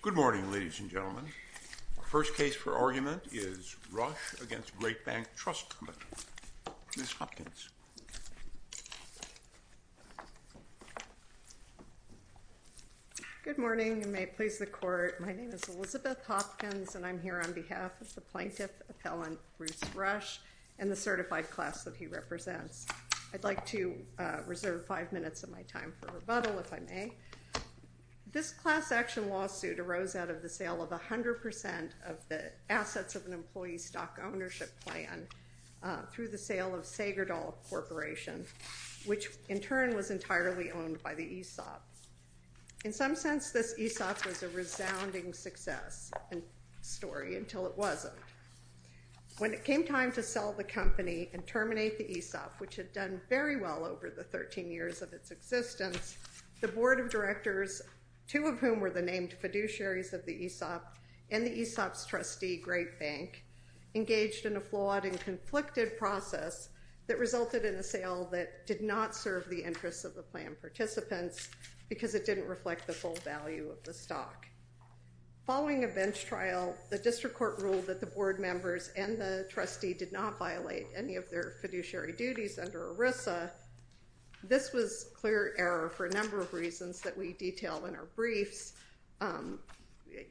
Good morning, ladies and gentlemen. Our first case for argument is Rush v. GreatBanc Trust Company. Ms. Hopkins. Good morning, and may it please the Court. My name is Elizabeth Hopkins, and I'm here on behalf of the Plaintiff Appellant, Bruce Rush, and the certified class that he represents. I'd like to reserve five minutes of my time for rebuttal, if I may. This class action lawsuit arose out of the sale of 100% of the assets of an employee's stock ownership plan through the sale of Sagerdahl Corporation, which in turn was entirely owned by the ESOP. In some sense, this ESOP was a resounding success story, until it wasn't. When it came time to sell the company and terminate the ESOP, which had done very well over the 13 years of its existence, the Board of Directors, two of whom were the named fiduciaries of the ESOP and the ESOP's trustee, GreatBanc, engaged in a flawed and conflicted process that resulted in a sale that did not serve the interests of the plan participants because it didn't reflect the full value of the stock. Following a bench trial, the district court ruled that the board members and the trustee did not violate any of their fiduciary duties under ERISA. This was clear error for a number of reasons that we detail in our briefs,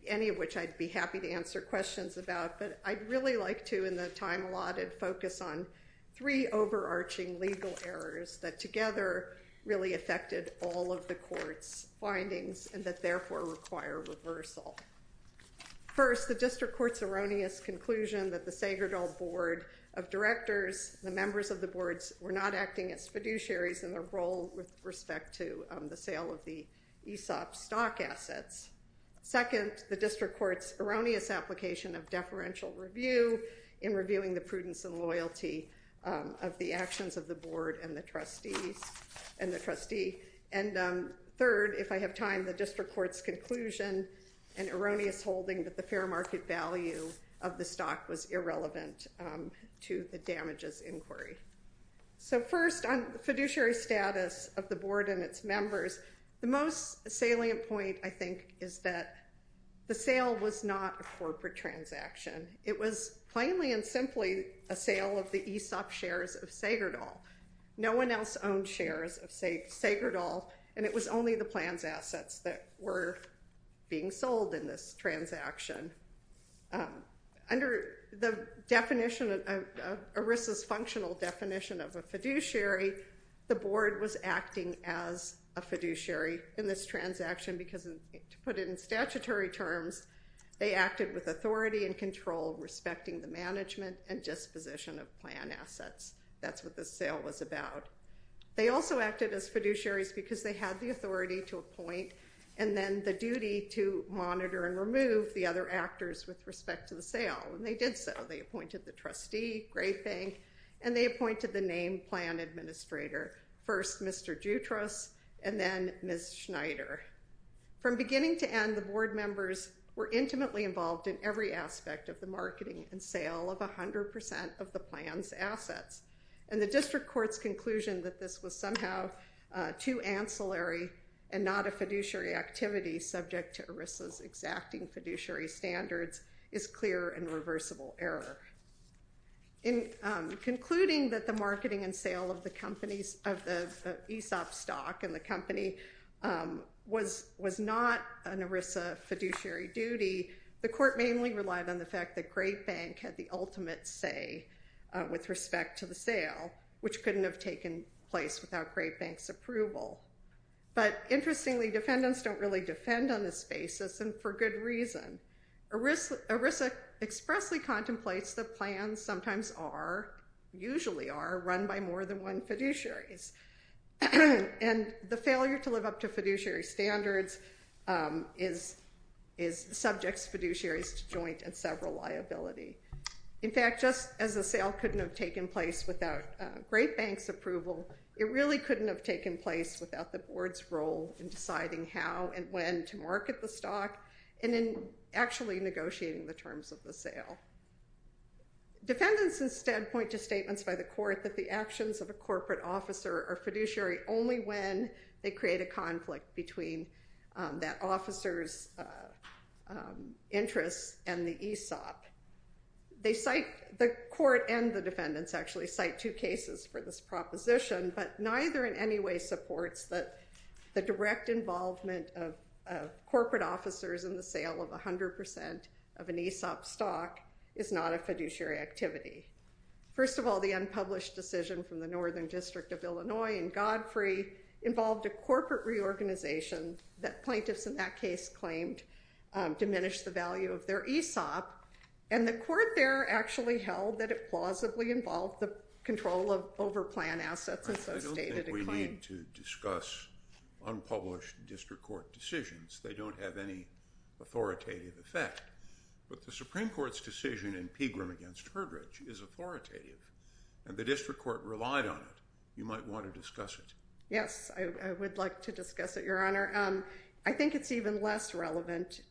any of which I'd be happy to answer questions about, but I'd really like to, in the time allotted, focus on three overarching legal errors that together really affected all of the court's findings and that therefore require reversal. First, the district court's erroneous conclusion that the Sagerdahl Board of Directors and the members of the boards were not acting as fiduciaries in their role with respect to the sale of the ESOP stock assets. Second, the district court's erroneous application of deferential review in reviewing the prudence and loyalty of the actions of the board and the trustee. And third, if I have time, the district court's conclusion and erroneous holding that the fair market value of the stock was irrelevant to the damages inquiry. So first, on the fiduciary status of the board and its members, the most salient point, I think, is that the sale was not a corporate transaction. It was plainly and simply a sale of the ESOP shares of Sagerdahl. No one else owned shares of Sagerdahl, and it was only the plans assets that were being sold in this transaction. Under the definition of ERISA's functional definition of a fiduciary, the board was acting as a fiduciary in this transaction because, to put it in statutory terms, they acted with authority and control respecting the management and disposition of plan assets. That's what the sale was about. They also acted as fiduciaries because they had the authority to appoint and then the duty to monitor and remove the other actors with respect to the sale. And they did so. They appointed the trustee. Great thing. And they appointed the name plan administrator, first Mr. Jutras and then Ms. Schneider. From beginning to end, the board members were intimately involved in every aspect of the marketing and sale of 100 percent of the plan's assets. And the district court's conclusion that this was somehow too ancillary and not a fiduciary activity subject to ERISA's exacting fiduciary standards is clear and reversible error. In concluding that the marketing and sale of the ESOP stock and the company was not an ERISA fiduciary duty, the court mainly relied on the fact that Great Bank had the ultimate say with respect to the sale, which couldn't have taken place without Great Bank's approval. But interestingly, defendants don't really defend on this basis and for good reason. ERISA expressly contemplates that plans sometimes are, usually are, run by more than one fiduciary. And the failure to live up to fiduciary standards is subject fiduciaries to joint and several liability. In fact, just as the sale couldn't have taken place without Great Bank's approval, it really couldn't have taken place without the board's role in deciding how and when to market the stock and in actually negotiating the terms of the sale. Defendants instead point to statements by the court that the actions of a corporate officer are fiduciary only when they create a conflict between that officer's interests and the ESOP. The court and the defendants actually cite two cases for this proposition, but neither in any way supports that the direct involvement of corporate officers in the sale of 100% of an ESOP stock is not a fiduciary activity. First of all, the unpublished decision from the Northern District of Illinois in Godfrey involved a corporate reorganization that plaintiffs in that case claimed diminished the value of their ESOP. And the court there actually held that it plausibly involved the control of overplanned assets as so stated. I don't think we need to discuss unpublished district court decisions. They don't have any authoritative effect. But the Supreme Court's decision in Pegram against Herdrich is authoritative, and the district court relied on it. You might want to discuss it. Yes, I would like to discuss it, Your Honor. I think it's even less relevant,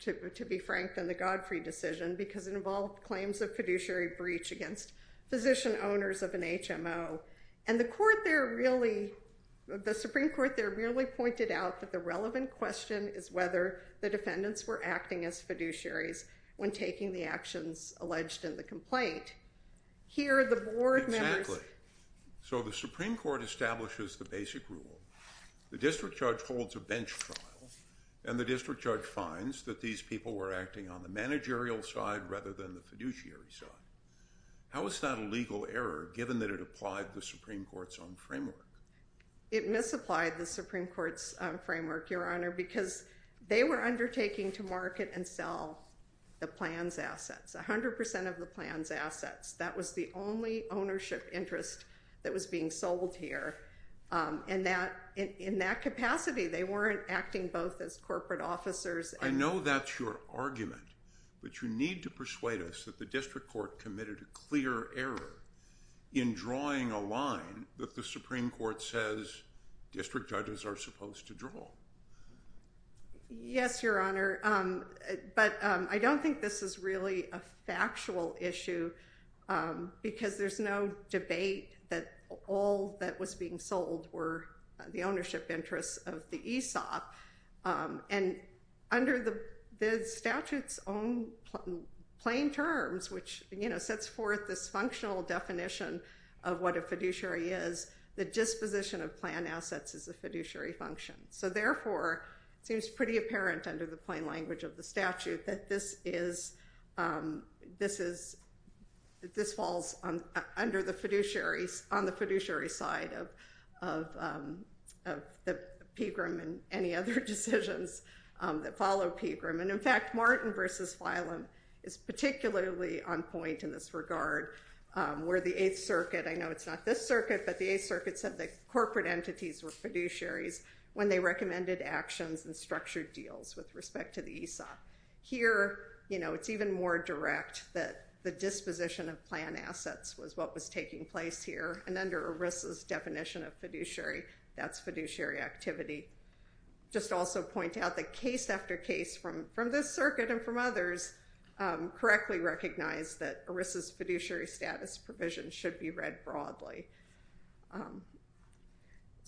to be frank, than the Godfrey decision because it involved claims of fiduciary breach against physician owners of an HMO. And the Supreme Court there really pointed out that the relevant question is whether the defendants were acting as fiduciaries when taking the actions alleged in the complaint. Exactly. So the Supreme Court establishes the basic rule. The district judge holds a bench trial, and the district judge finds that these people were acting on the managerial side rather than the fiduciary side. How is that a legal error given that it applied the Supreme Court's own framework? It misapplied the Supreme Court's framework, Your Honor, because they were undertaking to market and sell the plan's assets, 100% of the plan's assets. That was the only ownership interest that was being sold here. In that capacity, they weren't acting both as corporate officers. I know that's your argument, but you need to persuade us that the district court committed a clear error in drawing a line that the Supreme Court says district judges are supposed to draw. Yes, Your Honor, but I don't think this is really a factual issue because there's no debate that all that was being sold were the ownership interests of the ESOP. And under the statute's own plain terms, which sets forth this functional definition of what a fiduciary is, the disposition of plan assets is a fiduciary function. So, therefore, it seems pretty apparent under the plain language of the statute that this falls on the fiduciary side of the PGRM and any other decisions that follow PGRM. And, in fact, Martin v. Filum is particularly on point in this regard, where the Eighth Circuit, I know it's not this circuit, but the Eighth Circuit said that corporate entities were fiduciaries when they recommended actions and structured deals with respect to the ESOP. Here, you know, it's even more direct that the disposition of plan assets was what was taking place here, and under ERISA's definition of fiduciary, that's fiduciary activity. Just also point out that case after case from this circuit and from others correctly recognize that ERISA's fiduciary status provision should be read broadly.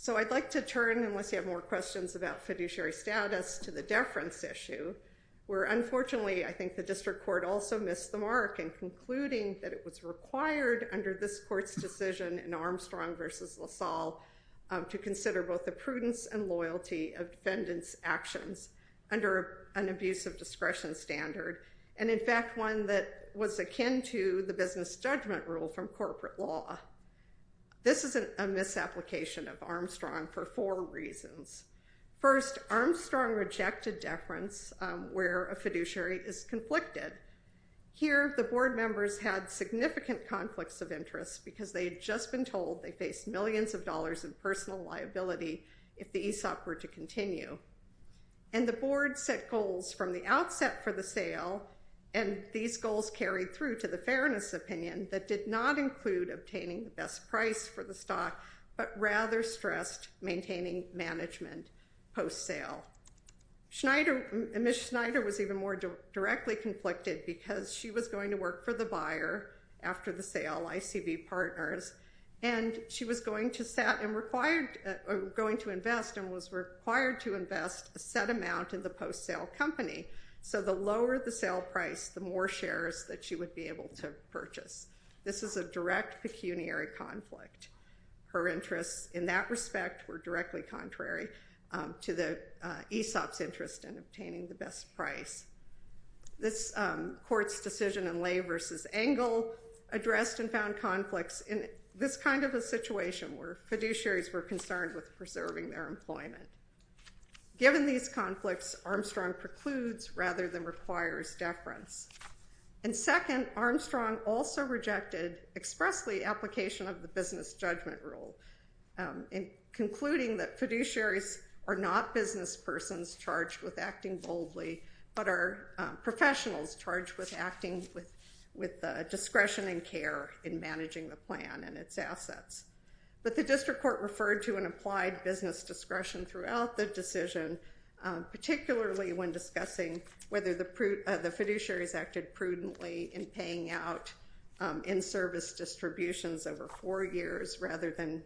So I'd like to turn, unless you have more questions about fiduciary status, to the deference issue, where, unfortunately, I think the district court also missed the mark in concluding that it was required under this court's decision in Armstrong v. LaSalle to consider both the prudence and loyalty of defendants' actions under an abuse of discretion standard, and, in fact, one that was akin to the business judgment rule from corporate law. This is a misapplication of Armstrong for four reasons. First, Armstrong rejected deference where a fiduciary is conflicted. Here, the board members had significant conflicts of interest because they had just been told they faced millions of dollars in personal liability if the ESOP were to continue, and the board set goals from the outset for the sale, and these goals carried through to the fairness opinion that did not include obtaining the best price for the stock but rather stressed maintaining management post-sale. Ms. Schneider was even more directly conflicted because she was going to work for the buyer after the sale, ICB partners, and she was going to invest and was required to invest a set amount in the post-sale company, so the lower the sale price, the more shares that she would be able to purchase. This is a direct pecuniary conflict. Her interests in that respect were directly contrary to the ESOP's interest in obtaining the best price. This court's decision in Lay v. Engel addressed and found conflicts in this kind of a situation where fiduciaries were concerned with preserving their employment. Given these conflicts, Armstrong precludes rather than requires deference, and second, Armstrong also rejected expressly application of the business judgment rule in concluding that fiduciaries are not business persons charged with acting boldly but are professionals charged with acting with discretion and care in managing the plan and its assets, but the district court referred to an applied business discretion throughout the decision, particularly when discussing whether the fiduciaries acted prudently in paying out in-service distributions over four years rather than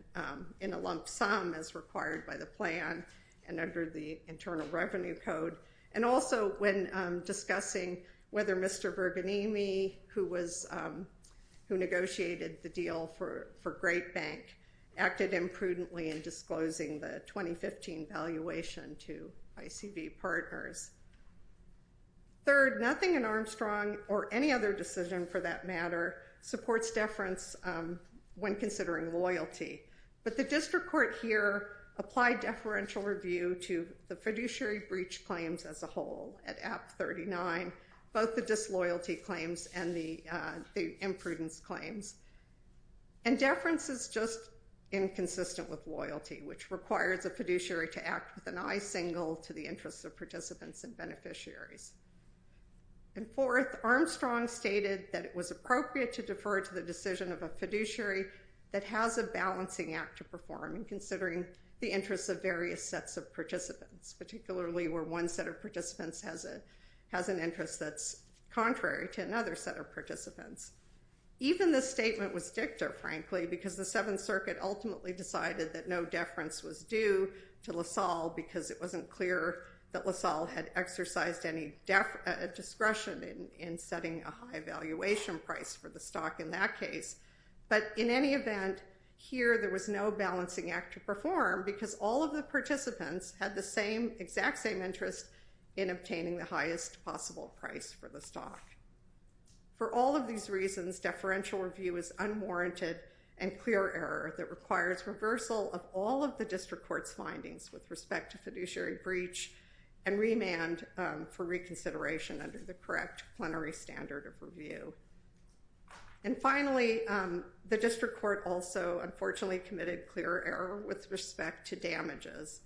in a lump sum as required by the plan and under the Internal Revenue Code, and also when discussing whether Mr. Berganini, who negotiated the deal for Great Bank, acted imprudently in disclosing the 2015 valuation to ICB partners. Third, nothing in Armstrong, or any other decision for that matter, supports deference when considering loyalty, but the district court here applied deferential review to the fiduciary breach claims as a whole at Act 39, both the disloyalty claims and the imprudence claims, and deference is just inconsistent with loyalty, which requires a fiduciary to act with an eye single to the interests of participants and beneficiaries. And fourth, Armstrong stated that it was appropriate to defer to the decision of a fiduciary that has a balancing act to perform in considering the interests of various sets of participants, particularly where one set of participants has an interest that's contrary to another set of participants. Even this statement was dicta, frankly, because the Seventh Circuit ultimately decided that no deference was due to LaSalle because it wasn't clear that LaSalle had exercised any discretion in setting a high valuation price for the stock in that case, but in any event, here there was no balancing act to perform because all of the participants had the exact same interest in obtaining the highest possible price for the stock. For all of these reasons, deferential review is unwarranted and clear error that requires reversal of all of the district court's findings with respect to fiduciary breach and remand for reconsideration under the correct plenary standard of review. And finally, the district court also unfortunately committed clear error with respect to damages.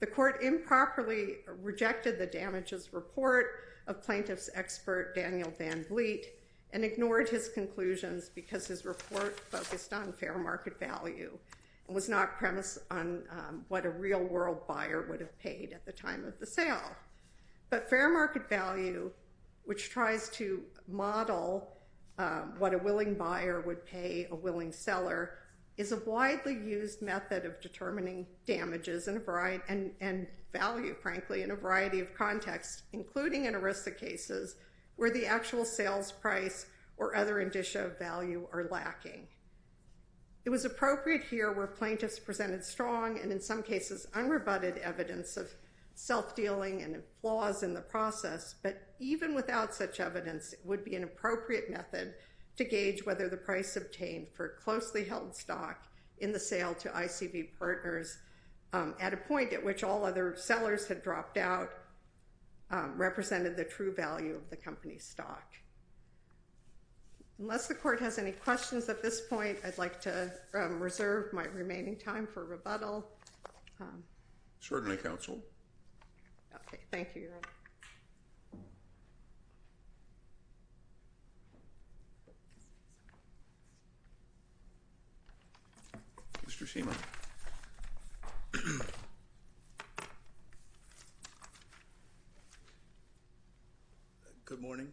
The court improperly rejected the damages report of plaintiff's expert Daniel Van Vliet and ignored his conclusions because his report focused on fair market value and was not premised on what a real world buyer would have paid at the time of the sale. But fair market value, which tries to model what a willing buyer would pay a willing seller, is a widely used method of determining damages and value, frankly, in a variety of contexts, including in ERISA cases where the actual sales price or other indicia of value are lacking. It was appropriate here where plaintiffs presented strong and in some cases unrebutted evidence of self-dealing and flaws in the process. But even without such evidence, it would be an appropriate method to gauge whether the price obtained for closely held stock in the sale to ICB partners at a point at which all other sellers had dropped out represented the true value of the company's stock. Unless the court has any questions at this point, I'd like to reserve my remaining time for rebuttal. Certainly, Counsel. Okay. Thank you, Your Honor. Mr. Schema. Good morning.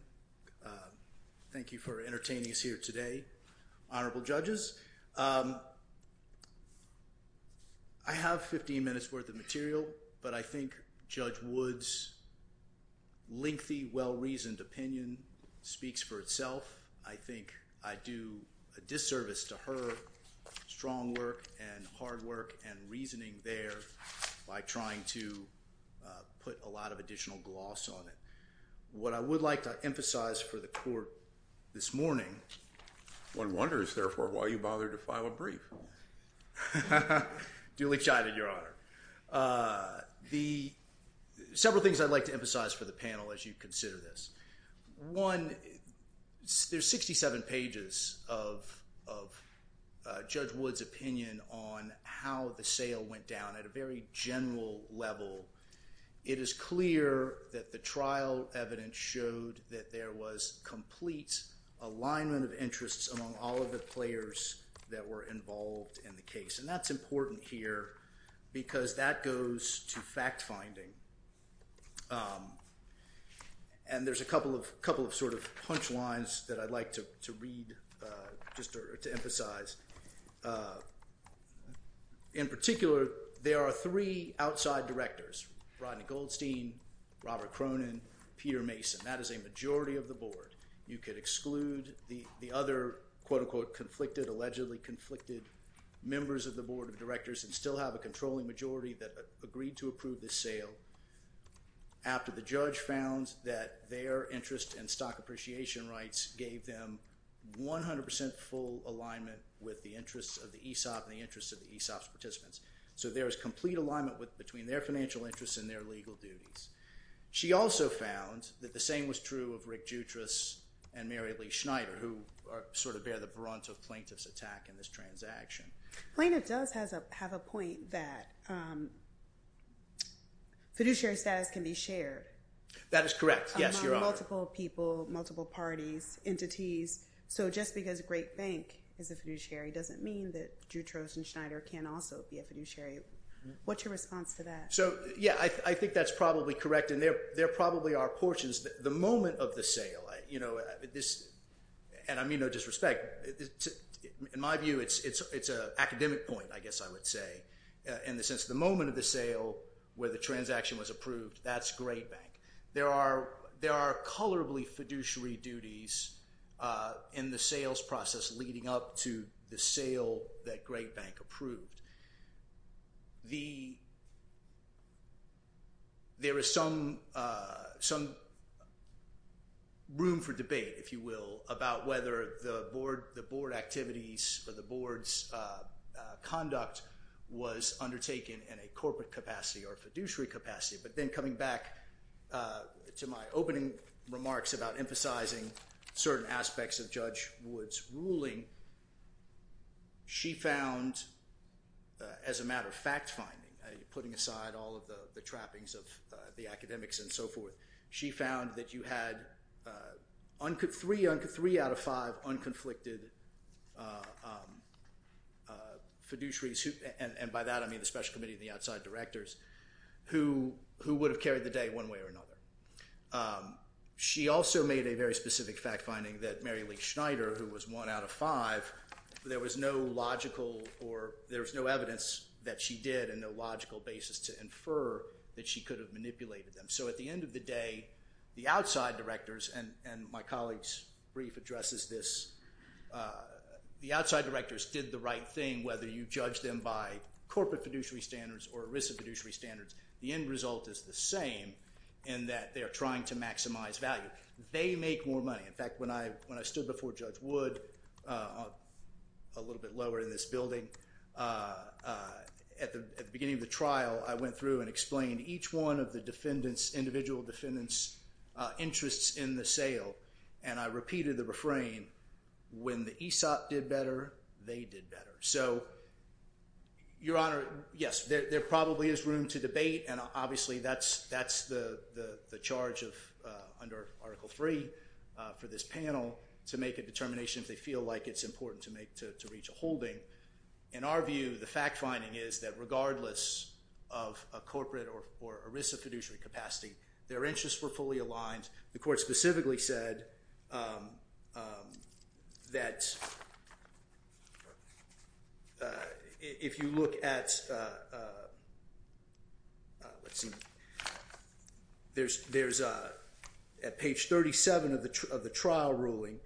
Thank you for entertaining us here today, Honorable Judges. I have 15 minutes' worth of material, but I think Judge Wood's lengthy, well-reasoned opinion speaks for itself. I think I do a disservice to her strong work and hard work and reasoning there by trying to put a lot of additional gloss on it. What I would like to emphasize for the court this morning— One wonders, therefore, why you bothered to file a brief. Duly chided, Your Honor. Several things I'd like to emphasize for the panel as you consider this. One, there's 67 pages of Judge Wood's opinion on how the sale went down at a very general level. It is clear that the trial evidence showed that there was complete alignment of interests among all of the players that were involved in the case. And that's important here because that goes to fact-finding. And there's a couple of sort of punchlines that I'd like to read just to emphasize. In particular, there are three outside directors, Rodney Goldstein, Robert Cronin, Peter Mason. That is a majority of the board. You could exclude the other, quote-unquote, conflicted, allegedly conflicted members of the board of directors and still have a controlling majority that agreed to approve this sale after the judge found that their interest in stock appreciation rights gave them 100 percent full alignment with the interests of the ESOP and the interests of the ESOP's participants. So there is complete alignment between their financial interests and their legal duties. She also found that the same was true of Rick Jutras and Mary Lee Schneider who sort of bear the brunt of plaintiff's attack in this transaction. Plaintiff does have a point that fiduciary status can be shared. That is correct. Yes, Your Honor. Among multiple people, multiple parties, entities. So just because a great bank is a fiduciary doesn't mean that Jutras and Schneider can also be a fiduciary. What's your response to that? So, yeah, I think that's probably correct and there probably are portions. The moment of the sale, you know, and I mean no disrespect, in my view it's an academic point, I guess I would say, in the sense the moment of the sale where the transaction was approved, that's great bank. There are colorably fiduciary duties in the sales process leading up to the sale that great bank approved. There is some room for debate, if you will, about whether the board activities or the board's conduct was undertaken in a corporate capacity or fiduciary capacity. But then coming back to my opening remarks about emphasizing certain aspects of Judge Wood's ruling, she found, as a matter of fact finding, putting aside all of the trappings of the academics and so forth, she found that you had three out of five unconflicted fiduciaries, and by that I mean the special committee and the outside directors, who would have carried the day one way or another. She also made a very specific fact finding that Mary Lee Schneider, who was one out of five, there was no logical or there was no evidence that she did and no logical basis to infer that she could have manipulated them. So at the end of the day, the outside directors, and my colleague's brief addresses this, the outside directors did the right thing whether you judge them by corporate fiduciary standards or ERISA fiduciary standards. The end result is the same in that they are trying to maximize value. They make more money. In fact, when I stood before Judge Wood, a little bit lower in this building, at the beginning of the trial I went through and explained each one of the individual defendants' interests in the sale, and I repeated the refrain, when the ESOP did better, they did better. So, Your Honor, yes, there probably is room to debate, and obviously that's the charge under Article III for this panel to make a determination if they feel like it's important to reach a holding. In our view, the fact finding is that regardless of a corporate or ERISA fiduciary capacity, their interests were fully aligned. The Court specifically said that if you look at, let's see, there's at page 37 of the trial ruling,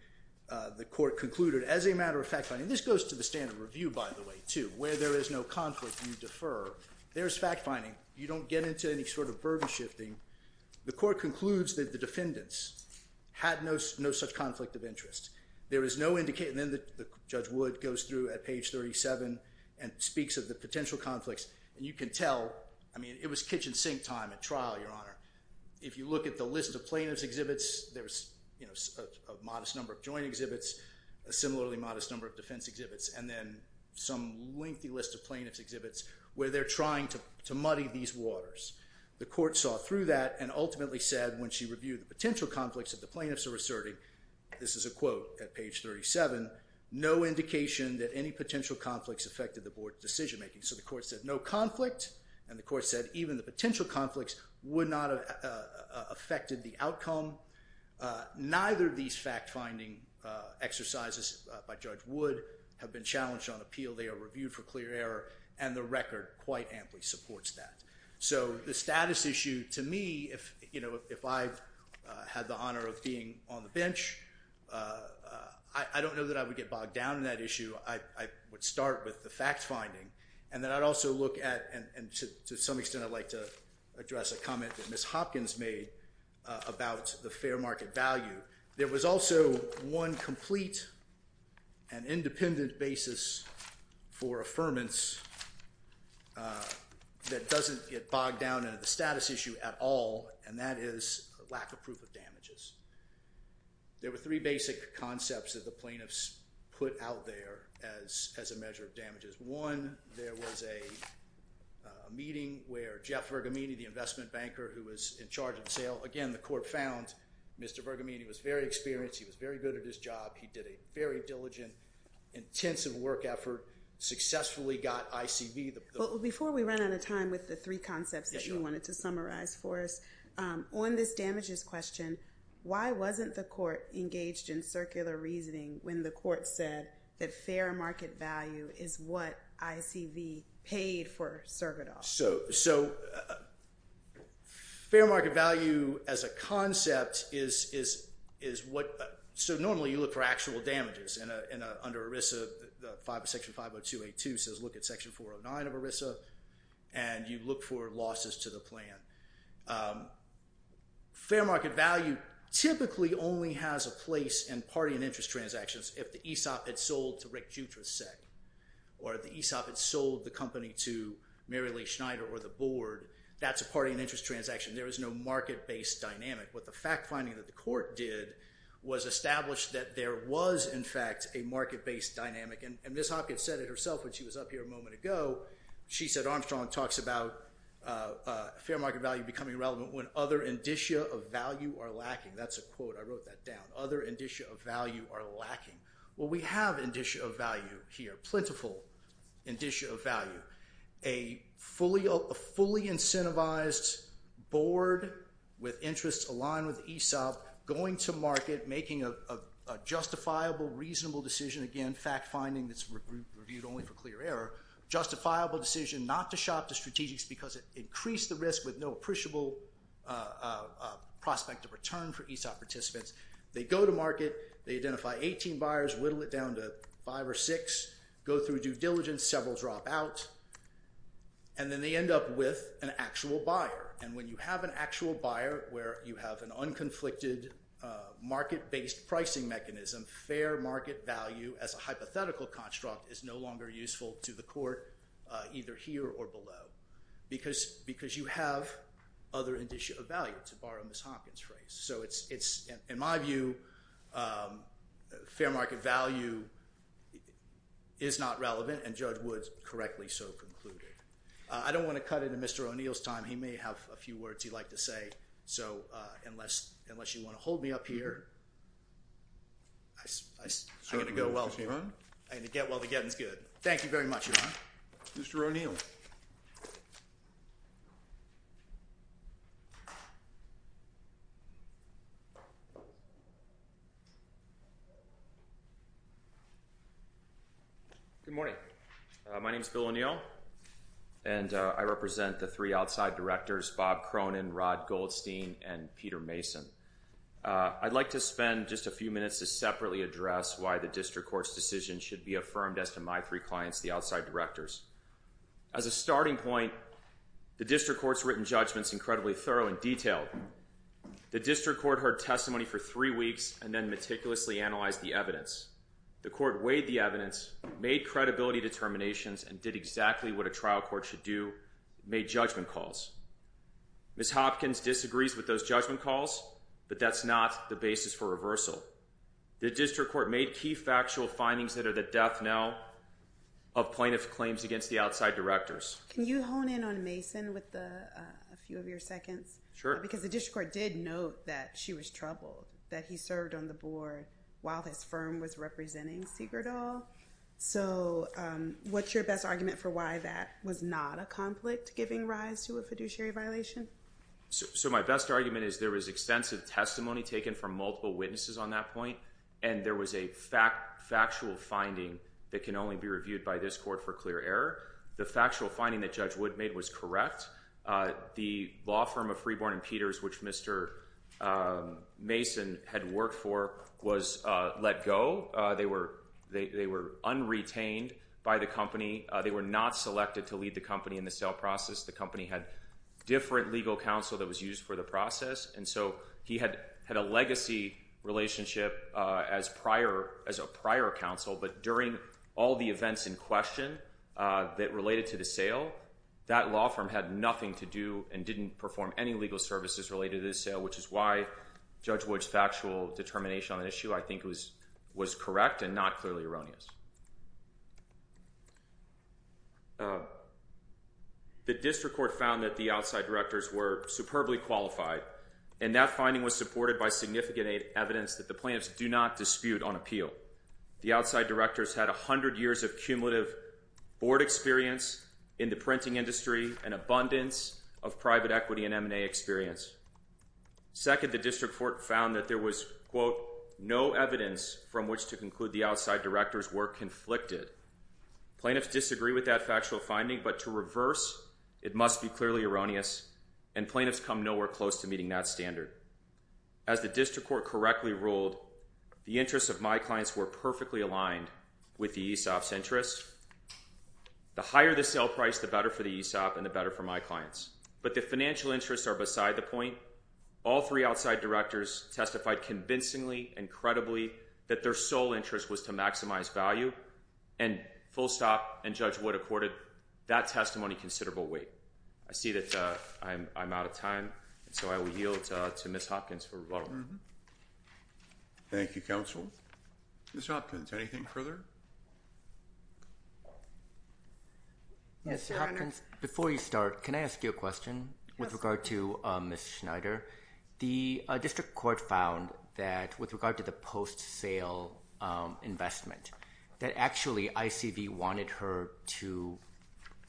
the Court concluded as a matter of fact finding, this goes to the standard review, by the way, too, where there is no conflict, you defer. There's fact finding. You don't get into any sort of burden shifting. The Court concludes that the defendants had no such conflict of interest. There is no indication, and then Judge Wood goes through at page 37 and speaks of the potential conflicts, and you can tell, I mean, it was kitchen sink time at trial, Your Honor. If you look at the list of plaintiff's exhibits, there's a modest number of joint exhibits, a similarly modest number of defense exhibits, and then some lengthy list of plaintiff's exhibits where they're trying to muddy these waters. The Court saw through that and ultimately said when she reviewed the potential conflicts that the plaintiffs are asserting, this is a quote at page 37, no indication that any potential conflicts affected the board's decision making. So the Court said no conflict, and the Court said even the potential conflicts would not have affected the outcome. Neither of these fact finding exercises by Judge Wood have been challenged on appeal. They are reviewed for clear error, and the record quite amply supports that. So the status issue to me, if I had the honor of being on the bench, I don't know that I would get bogged down in that issue. I would start with the fact finding, and then I'd also look at, and to some extent I'd like to address a comment that Ms. Hopkins made about the fair market value. There was also one complete and independent basis for affirmance that doesn't get bogged down in the status issue at all, and that is lack of proof of damages. There were three basic concepts that the plaintiffs put out there as a measure of damages. One, there was a meeting where Jeff Bergamini, the investment banker, who was in charge of the sale, again, the Court found Mr. Bergamini was very experienced, he was very good at his job, he did a very diligent, intensive work effort, successfully got ICV. Before we run out of time with the three concepts that you wanted to summarize for us, on this damages question, why wasn't the Court engaged in circular reasoning when the Court said that fair market value is what ICV paid for Cervidal? So fair market value as a concept is what, so normally you look for actual damages under ERISA, Section 50282 says look at Section 409 of ERISA, and you look for losses to the plan. Fair market value typically only has a place in party and interest transactions if the ESOP had sold to Rick Jutraszek, or the ESOP had sold the company to Mary Lee Schneider or the board, that's a party and interest transaction. There is no market-based dynamic. What the fact finding that the Court did was establish that there was, in fact, a market-based dynamic, and Ms. Hopkins said it herself when she was up here a moment ago. She said Armstrong talks about fair market value becoming relevant when other indicia of value are lacking. That's a quote. I wrote that down. Other indicia of value are lacking. Well, we have indicia of value here, plentiful indicia of value. A fully incentivized board with interests aligned with ESOP going to market, making a justifiable, reasonable decision. Again, fact finding that's reviewed only for clear error. Justifiable decision not to shop to strategics because it increased the risk with no appreciable prospect of return for ESOP participants. They go to market. They identify 18 buyers, whittle it down to five or six, go through due diligence, several drop out, and then they end up with an actual buyer. And when you have an actual buyer where you have an unconflicted market-based pricing mechanism, fair market value as a hypothetical construct is no longer useful to the court either here or below because you have other indicia of value, to borrow Ms. Hopkins' phrase. So in my view, fair market value is not relevant, and Judge Woods correctly so concluded. I don't want to cut into Mr. O'Neill's time. He may have a few words he'd like to say, so unless you want to hold me up here, I'm going to go. I'm going to get while the getting's good. Thank you very much, Your Honor. Mr. O'Neill. Good morning. My name is Bill O'Neill, and I represent the three outside directors, Bob Cronin, Rod Goldstein, and Peter Mason. I'd like to spend just a few minutes to separately address why the district court's decision should be affirmed as to my three clients, the outside directors. As a starting point, the district court's written judgment's incredibly thorough and detailed. The district court heard testimony for three weeks and then meticulously analyzed the evidence. The court weighed the evidence, made credibility determinations, and did exactly what a trial court should do, made judgment calls. Ms. Hopkins disagrees with those judgment calls, but that's not the basis for reversal. The district court made key factual findings that are the death knell of plaintiff claims against the outside directors. Can you hone in on Mason with a few of your seconds? Sure. Because the district court did note that she was troubled, that he served on the board while his firm was representing Siegertal. So what's your best argument for why that was not a conflict giving rise to a fiduciary violation? So my best argument is there was extensive testimony taken from multiple witnesses on that point, and there was a factual finding that can only be reviewed by this court for clear error. The factual finding that Judge Wood made was correct. The law firm of Freeborn and Peters, which Mr. Mason had worked for, was let go. They were unretained by the company. They were not selected to lead the company in the sale process. The company had different legal counsel that was used for the process, and so he had a legacy relationship as a prior counsel, but during all the events in question that related to the sale, that law firm had nothing to do and didn't perform any legal services related to the sale, which is why Judge Wood's factual determination on that issue, I think, was correct and not clearly erroneous. The district court found that the outside directors were superbly qualified, and that finding was supported by significant evidence that the plaintiffs do not dispute on appeal. The outside directors had 100 years of cumulative board experience in the printing industry and abundance of private equity and M&A experience. Second, the district court found that there was, quote, no evidence from which to conclude the outside directors were conflicted. Plaintiffs disagree with that factual finding, but to reverse, it must be clearly erroneous, and plaintiffs come nowhere close to meeting that standard. As the district court correctly ruled, the interests of my clients were perfectly aligned with the ESOP's interests. The higher the sale price, the better for the ESOP and the better for my clients, but the financial interests are beside the point. All three outside directors testified convincingly and credibly that their sole interest was to maximize value, and full stop and Judge Wood accorded that testimony considerable weight. I see that I'm out of time, so I will yield to Ms. Hopkins for rebuttal. Thank you, counsel. Ms. Hopkins, anything further? Yes, Your Honor. Ms. Hopkins, before you start, can I ask you a question with regard to Ms. Schneider? The district court found that with regard to the post-sale investment, that actually ICV wanted her to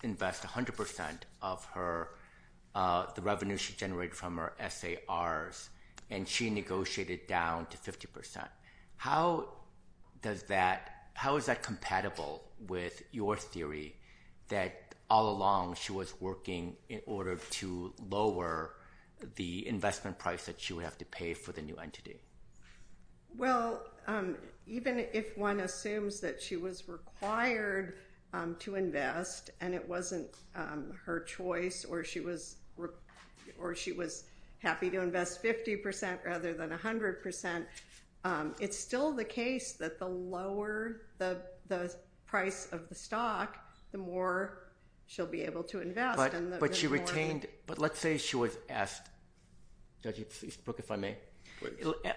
invest 100% of the revenue she generated from her SARs, and she negotiated down to 50%. How is that compatible with your theory that all along she was working in order to lower the investment price that she would have to pay for the new entity? Well, even if one assumes that she was required to invest and it wasn't her choice or she was happy to invest 50% rather than 100%, it's still the case that the lower the price of the stock, the more she'll be able to invest. But she retained, but let's say she was asked, Judge Eastbrook, if I may?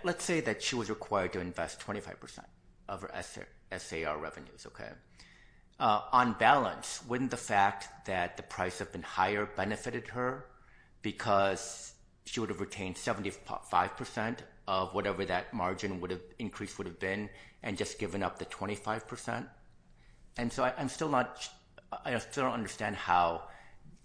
Let's say that she was required to invest 25% of her SAR revenues, okay? On balance, wouldn't the fact that the price had been higher benefited her because she would have retained 75% of whatever that margin increase would have been and just given up the 25%? And so I still don't understand how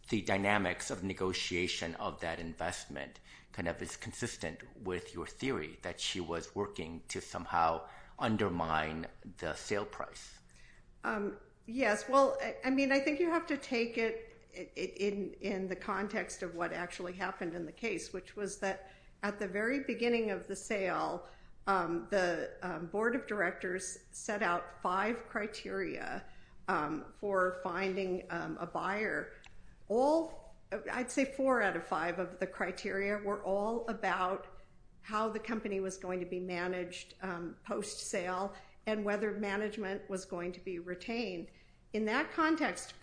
the dynamics of negotiation of that investment kind of is consistent with your theory that she was working to somehow undermine the sale price. Yes. Well, I mean, I think you have to take it in the context of what actually happened in the case, which was that at the very beginning of the sale, the board of directors set out five criteria for finding a buyer. I'd say four out of five of the criteria were all about how the company was going to be managed post-sale and whether management was going to be retained. In that context,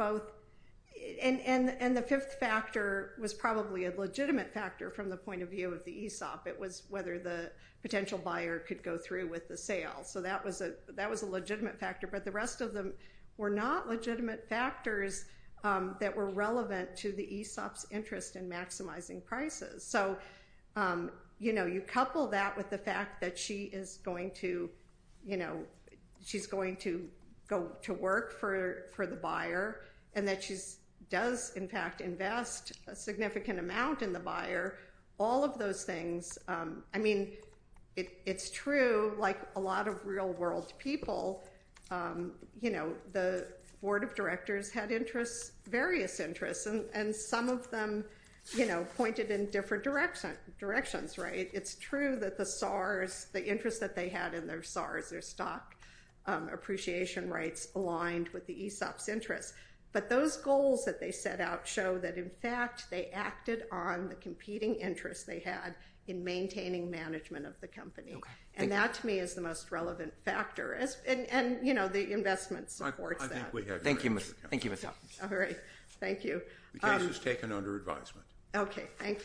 and the fifth factor was probably a legitimate factor from the point of view of the ESOP. It was whether the potential buyer could go through with the sale. So that was a legitimate factor, but the rest of them were not legitimate factors that were relevant to the ESOP's interest in maximizing prices. So, you know, you couple that with the fact that she is going to, you know, she's going to go to work for the buyer and that she does, in fact, invest a significant amount in the buyer. All of those things, I mean, it's true, like a lot of real world people, you know, the board of directors had interests, various interests, and some of them, you know, pointed in different directions. Right. It's true that the SARs, the interest that they had in their SARs, their stock appreciation rights aligned with the ESOP's interest. But those goals that they set out show that, in fact, they acted on the competing interests they had in maintaining management of the company. Okay. Thank you. And that, to me, is the most relevant factor. And, you know, the investment supports that. Thank you, Ms. Hopkins. All right. Thank you. The case is taken under advisement. Okay. Thank you.